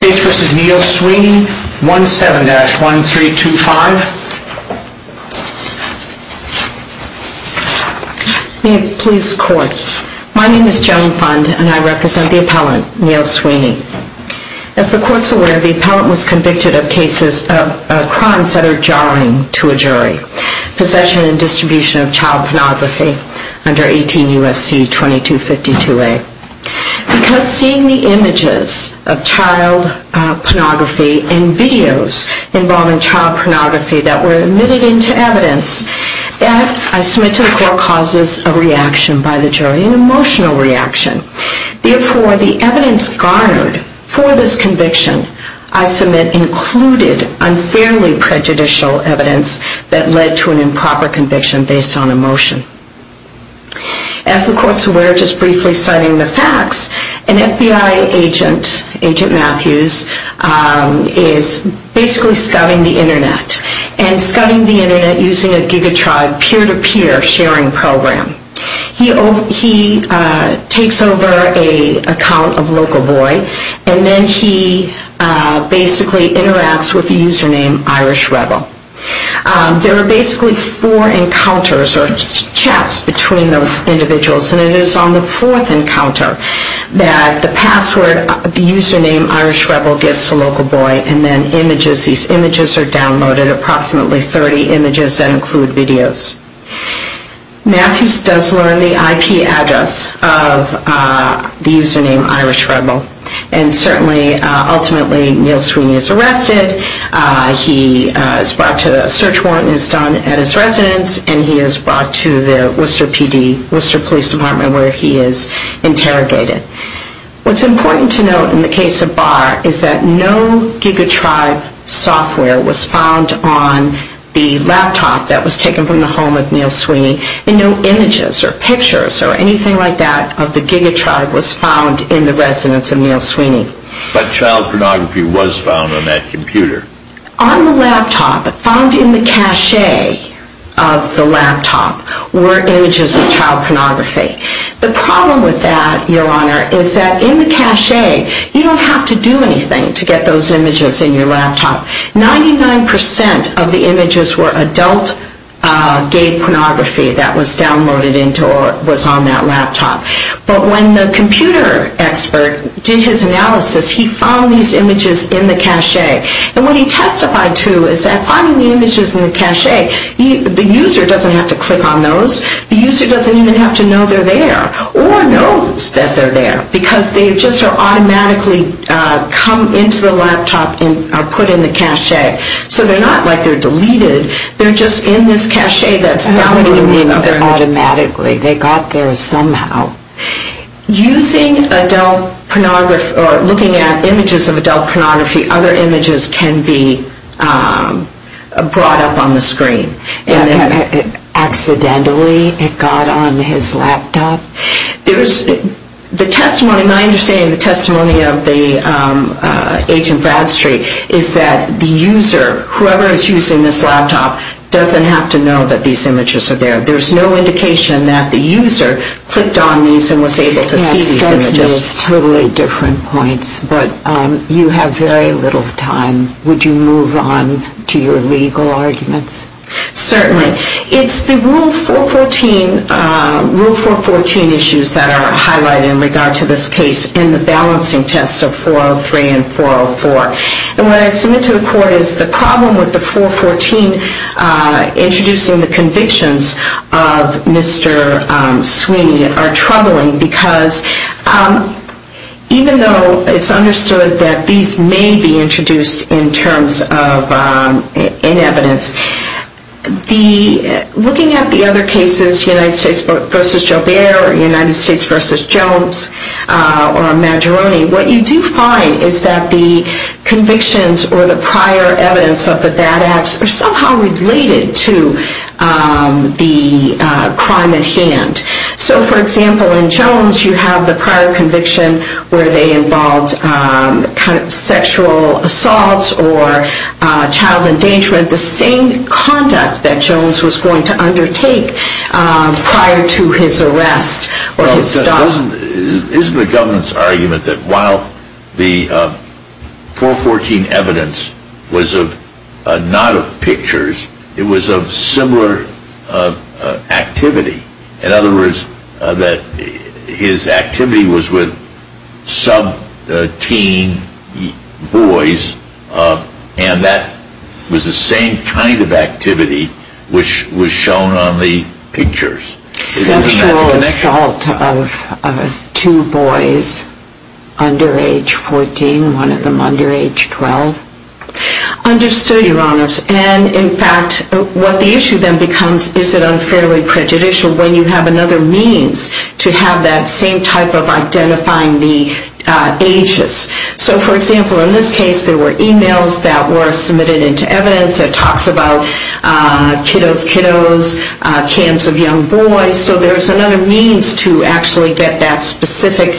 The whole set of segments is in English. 17-1325. May it please the court. My name is Joan Fund and I represent the appellant, Neil Sweeney. As the court is aware, the appellant was convicted of crimes that are jarring to a jury. Possession and distribution of child pornography under 18 U.S.C. 2252A. Because seeing the images of child pornography and videos involving child pornography that were admitted into evidence, that, I submit to the court, causes a reaction by the jury, an emotional reaction. Therefore, the evidence garnered for this conviction, I submit, included unfairly prejudicial evidence that led to an improper conviction based on emotion. As the court is aware, just briefly citing the facts, an FBI agent, Agent Matthews, is basically scouting the Internet. And scouting the Internet using a giga-tribe, peer-to-peer sharing program. He takes over an account of Local Boy and then he basically interacts with the user name Irish Rebel. There are basically four encounters or chats between those individuals. And it is on the fourth encounter that the password, the user name Irish Rebel, gives to Local Boy. And then images, these images are downloaded, approximately 30 images that include videos. Matthews does learn the IP address of the user name Irish Rebel. And certainly, ultimately, Neal Sweeney is arrested. He is brought to a search warrant is done at his residence. And he is brought to the Worcester PD, Worcester Police Department, where he is interrogated. What's important to note in the case of Barr is that no giga-tribe software was found on the laptop that was taken from the home of Neal Sweeney. And no images or pictures or anything like that of the giga-tribe was found in the residence of Neal Sweeney. But child pornography was found on that computer. On the laptop, found in the cache of the laptop, were images of child pornography. The problem with that, Your Honor, is that in the cache, you don't have to do anything to get those images in your laptop. 99% of the images were adult gay pornography that was downloaded into or was on that laptop. But when the computer expert did his analysis, he found these images in the cache. And what he testified to is that finding the images in the cache, the user doesn't have to click on those. The user doesn't even have to know they're there or know that they're there, because they just automatically come into the laptop and are put in the cache. So they're not like they're deleted. They're just in this cache that's They're not deleted automatically. They got there somehow. Using adult pornography or looking at images of adult pornography, other images can be brought up on the screen. Accidentally it got on his laptop? There's the testimony, my understanding of the testimony of the agent Bradstreet is that the user, whoever is using this laptop, doesn't have to know that these images are there. There's no indication that the user clicked on these and was able to see these images. Yeah, it starts in those totally different points. But you have very little time. Would you move on to your legal arguments? Certainly. It's the Rule 414 issues that are highlighted in regard to this case in the court is the problem with the 414 introducing the convictions of Mr. Sweeney are troubling, because even though it's understood that these may be introduced in terms of in evidence, looking at the other cases, United States v. Jolbert or United States v. Jones or Majoroni, what you do find is that the convictions or the prior evidence of the bad acts are somehow related to the crime at hand. So for example, in Jones you have the prior conviction where they involved sexual assaults or child endangerment, the same conduct that Jones was going to undertake prior to his arrest or his stop. Isn't the government's argument that while the 414 evidence was not of pictures, it was of similar activity? In other words, that his activity was with sub-teen boys and that was the same kind of activity which was shown on the pictures? Sexual assault of two boys under age 14, one of them under age 12? Understood, Your Honors. And in fact, what the issue then becomes is it unfairly prejudicial when you have another means to have that same type of identifying the ages. So for example, in this case there were e-mails that were submitted into evidence that talks about kiddos, kiddos, camps of young boys. So there's another means to actually get that specific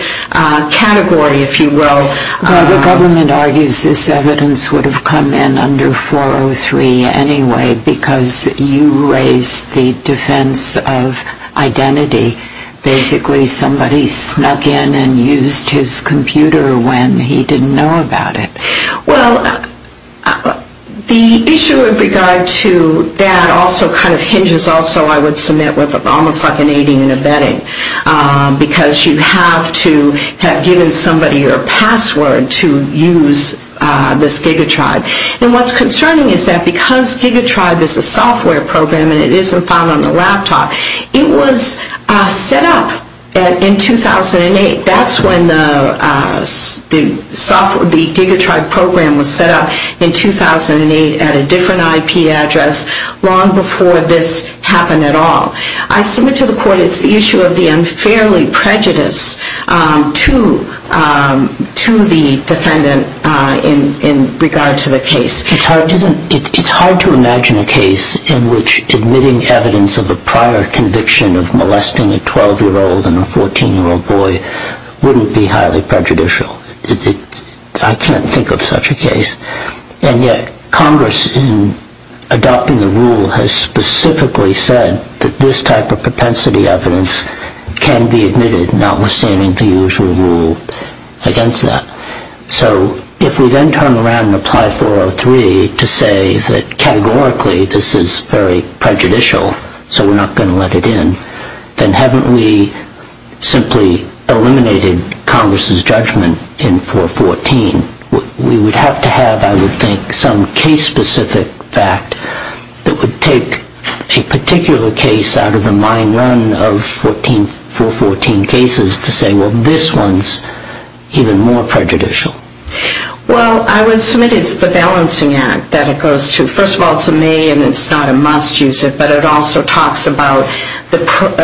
category, if you will. The government argues this evidence would have come in under 403 anyway because you raised the defense of identity. Basically somebody snuck in and used his computer when he didn't know about it. Well, the issue in regard to that also kind of hinges also I would submit with almost like an aiding and abetting because you have to have given somebody your password to use this GigaTribe. And what's concerning is that because GigaTribe is a software program and it isn't found on the laptop, it was set up in 2008. That's when the software, the GigaTribe program was set up in 2008 at a different IP address long before this happened at all. I submit to the court it's the issue of the unfairly prejudice to the defendant in regard to the case. It's hard to imagine a case in which admitting evidence of a prior conviction of molesting a 12-year-old and a 14-year-old boy wouldn't be highly prejudicial. I can't think of such a case. And yet Congress in adopting the rule has specifically said that this type of propensity evidence can be admitted notwithstanding the usual rule against that. So if we then turn around and apply 403 to say that categorically this is very prejudicial so we're not going to let it in, then haven't we simply eliminated Congress's judgment in 414? We would have to have, I would think, some case-specific fact that would take a particular case out of the mine run of 414 cases to say, well, this one's even more prejudicial. Well, I would submit it's the Balancing Act that it goes to. First of all, it's a may and it's not a must use it, but it also talks about the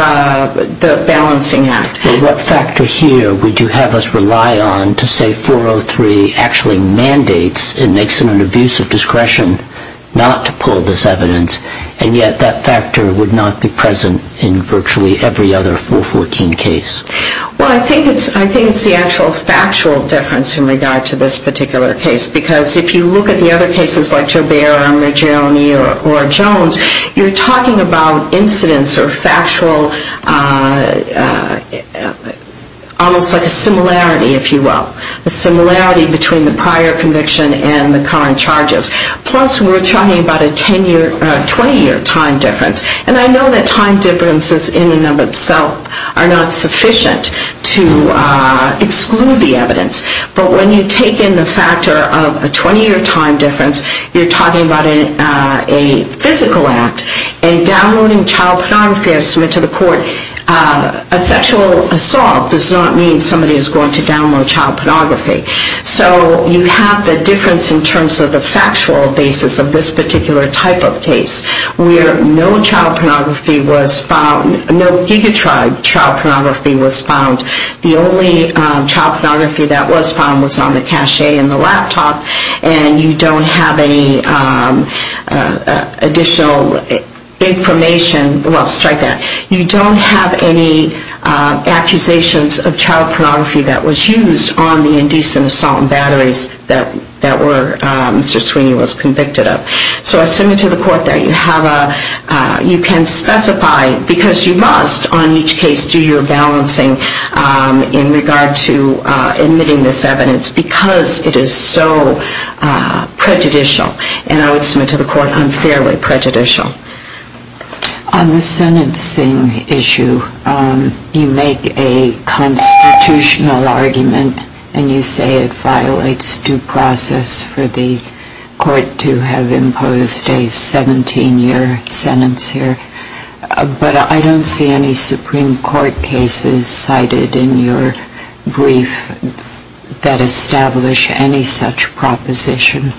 Balancing Act. What factor here would you have us rely on to say 403 actually mandates and makes it an abuse of discretion not to pull this evidence, and yet that factor would not be present in virtually every other 414 case? Well, I think it's the actual factual difference in regard to this particular case because if you look at the other cases like Trabair, Armagione, or Jones, you're talking about incidents or factual almost like a similarity, if you will, a similarity between the prior conviction and the current charges. Plus, we're talking about a 20-year time difference, and I know that time differences in and of themselves are not sufficient to exclude the 20-year time difference. You're talking about a physical act, and downloading child pornography as submitted to the court, a sexual assault does not mean somebody is going to download child pornography. So you have the difference in terms of the factual basis of this particular type of case where no child pornography was found, no gigatribe child pornography was found, and you don't have any additional information. Well, strike that. You don't have any accusations of child pornography that was used on the indecent assault and batteries that Mr. Sweeney was convicted of. So I submit to the court that you have a, you can specify, because you must on each case do your balancing in regard to admitting this evidence because it is so prejudicial. And I would submit to the court I'm fairly prejudicial. On the sentencing issue, you make a constitutional argument, and you say it violates due process for the court to have imposed a 17-year sentence here. But I don't see any Supreme Court cases cited in your brief that establish any such proposition.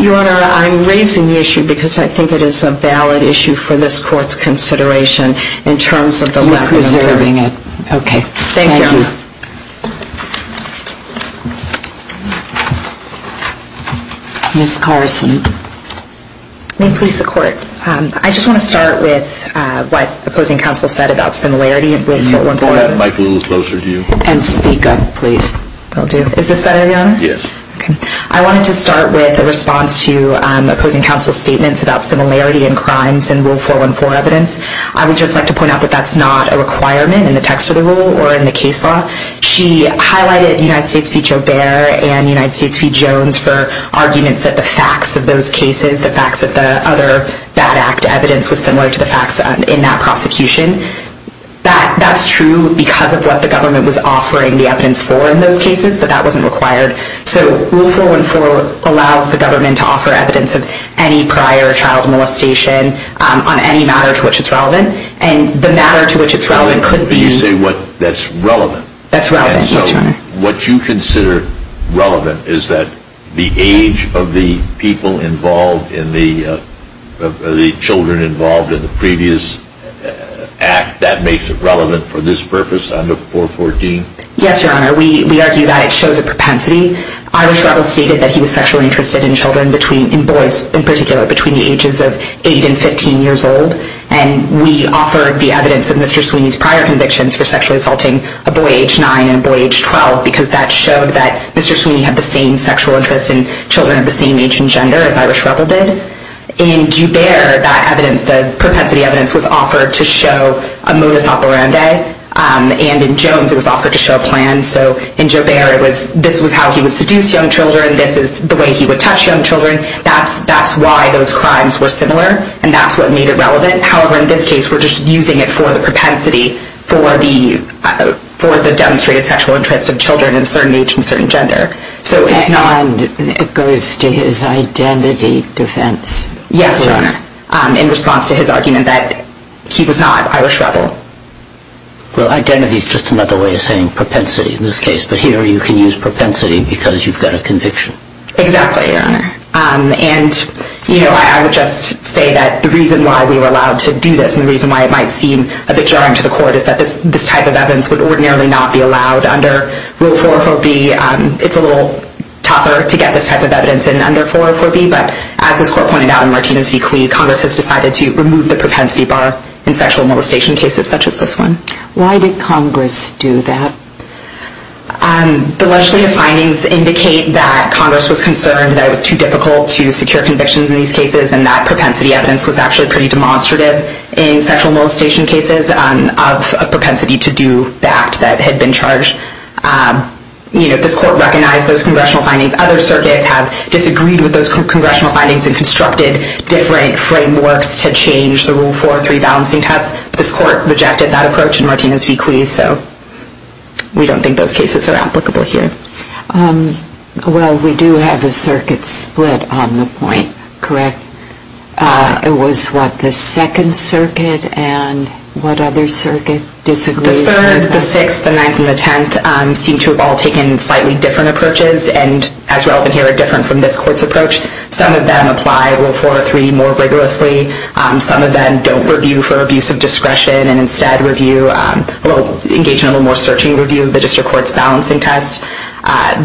Your Honor, I'm raising the issue because I think it is a valid issue for this Court's consideration in terms of the lack of... You're preserving it. Okay. Thank you. Ms. Carson. May it please the Court. I just want to start with what opposing counsel said about similarity with Rule 414. Can you pull that mic a little closer to you? And speak up, please. Is this better, Your Honor? Yes. I wanted to start with a response to opposing counsel's statements about similarity in crimes in Rule 414 evidence. I would just like to point out that that's not a requirement in the text of the rule or in the case law. She highlighted United States v. Joubert and United States v. Jones for arguments that the facts of those cases, the facts of the other bad act evidence, was similar to the facts in that prosecution. That's true because of what the government was offering the evidence for in those cases, but that wasn't required. So Rule 414 allows the government to offer evidence of any prior child molestation on any matter to which it's relevant. And the matter to which it's relevant could be... You say that's relevant. That's relevant, yes, Your Honor. What you consider relevant is that the age of the people involved in the... the children involved in the previous act, that makes it relevant for this purpose under 414? Yes, Your Honor. We argue that it shows a propensity. Irish Reveille stated that he was sexually interested in children, in boys in particular, between the ages of 8 and 15 years old. And we offered the evidence of Mr. Sweeney's prior convictions for sexually interested children between age 9 and boy age 12, because that showed that Mr. Sweeney had the same sexual interest in children of the same age and gender as Irish Reveille did. In Joubert, that evidence, the propensity evidence, was offered to show a modus operandi. And in Jones, it was offered to show a plan. So in Joubert, this was how he would seduce young children. This is the way he would touch young children. That's why those crimes were similar, and that's what made it relevant. However, in this case, we're just using it for the propensity for the demonstrated sexual interest of children of a certain age and certain gender. And it goes to his identity defense? Yes, Your Honor, in response to his argument that he was not Irish Reveille. Well, identity is just another way of saying propensity in this case. But here, you can use propensity because you've got a conviction. Exactly, Your Honor. And I would just say that the reason why we were allowed to do this and the reason why it might seem a bit jarring to the court is that this type of evidence would ordinarily not be allowed under Rule 404B. It's a little tougher to get this type of evidence in under 404B. But as this court pointed out in Martinez v. Cui, Congress has decided to remove the propensity bar in sexual molestation cases such as this one. Why did Congress do that? The legislative findings indicate that Congress was concerned that it was too difficult to in sexual molestation cases of a propensity to do that that had been charged. This court recognized those congressional findings. Other circuits have disagreed with those congressional findings and constructed different frameworks to change the Rule 403 balancing test. This court rejected that approach in Martinez v. Cui, so we don't think those cases are applicable here. Well, we do have a circuit split on the point, correct? It was, what, the second circuit and what other circuit disagrees with this? The third, the sixth, the ninth, and the tenth seem to have all taken slightly different approaches and, as relevant here, are different from this court's approach. Some of them apply Rule 403 more rigorously. Some of them don't review for abuse of discretion and instead review, engage in a little more searching review of the district court's balancing test.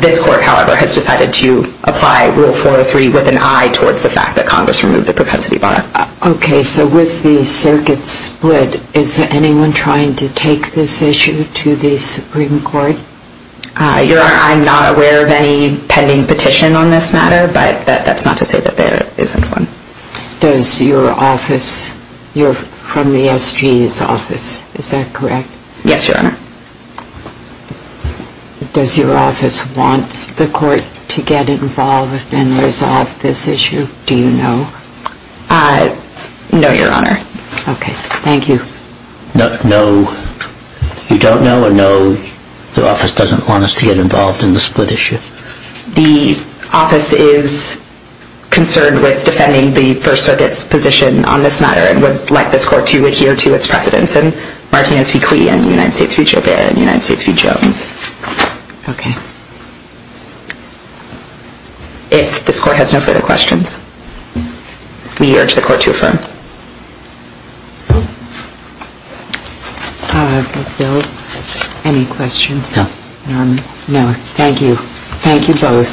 This court, however, has decided to apply Rule 403 with an eye towards the fact that Congress removed the propensity bar. Okay, so with the circuit split, is anyone trying to take this issue to the Supreme Court? I'm not aware of any pending petition on this matter, but that's not to say that there isn't one. Does your office, you're from the SG's office, is that correct? Yes, Your Honor. Does your office want the court to get involved and resolve this issue? Do you know? No, Your Honor. Okay, thank you. No, you don't know, and no, the office doesn't want us to get involved in the split issue. The office is concerned with defending the First Circuit's position on this matter and would like this court to adhere to its precedents in Martinez v. Clee and United States v. Javier and United States v. Jones. Okay. If this court has no further questions, we urge the court to affirm. Okay, Bill, any questions? No. No, thank you. Thank you both.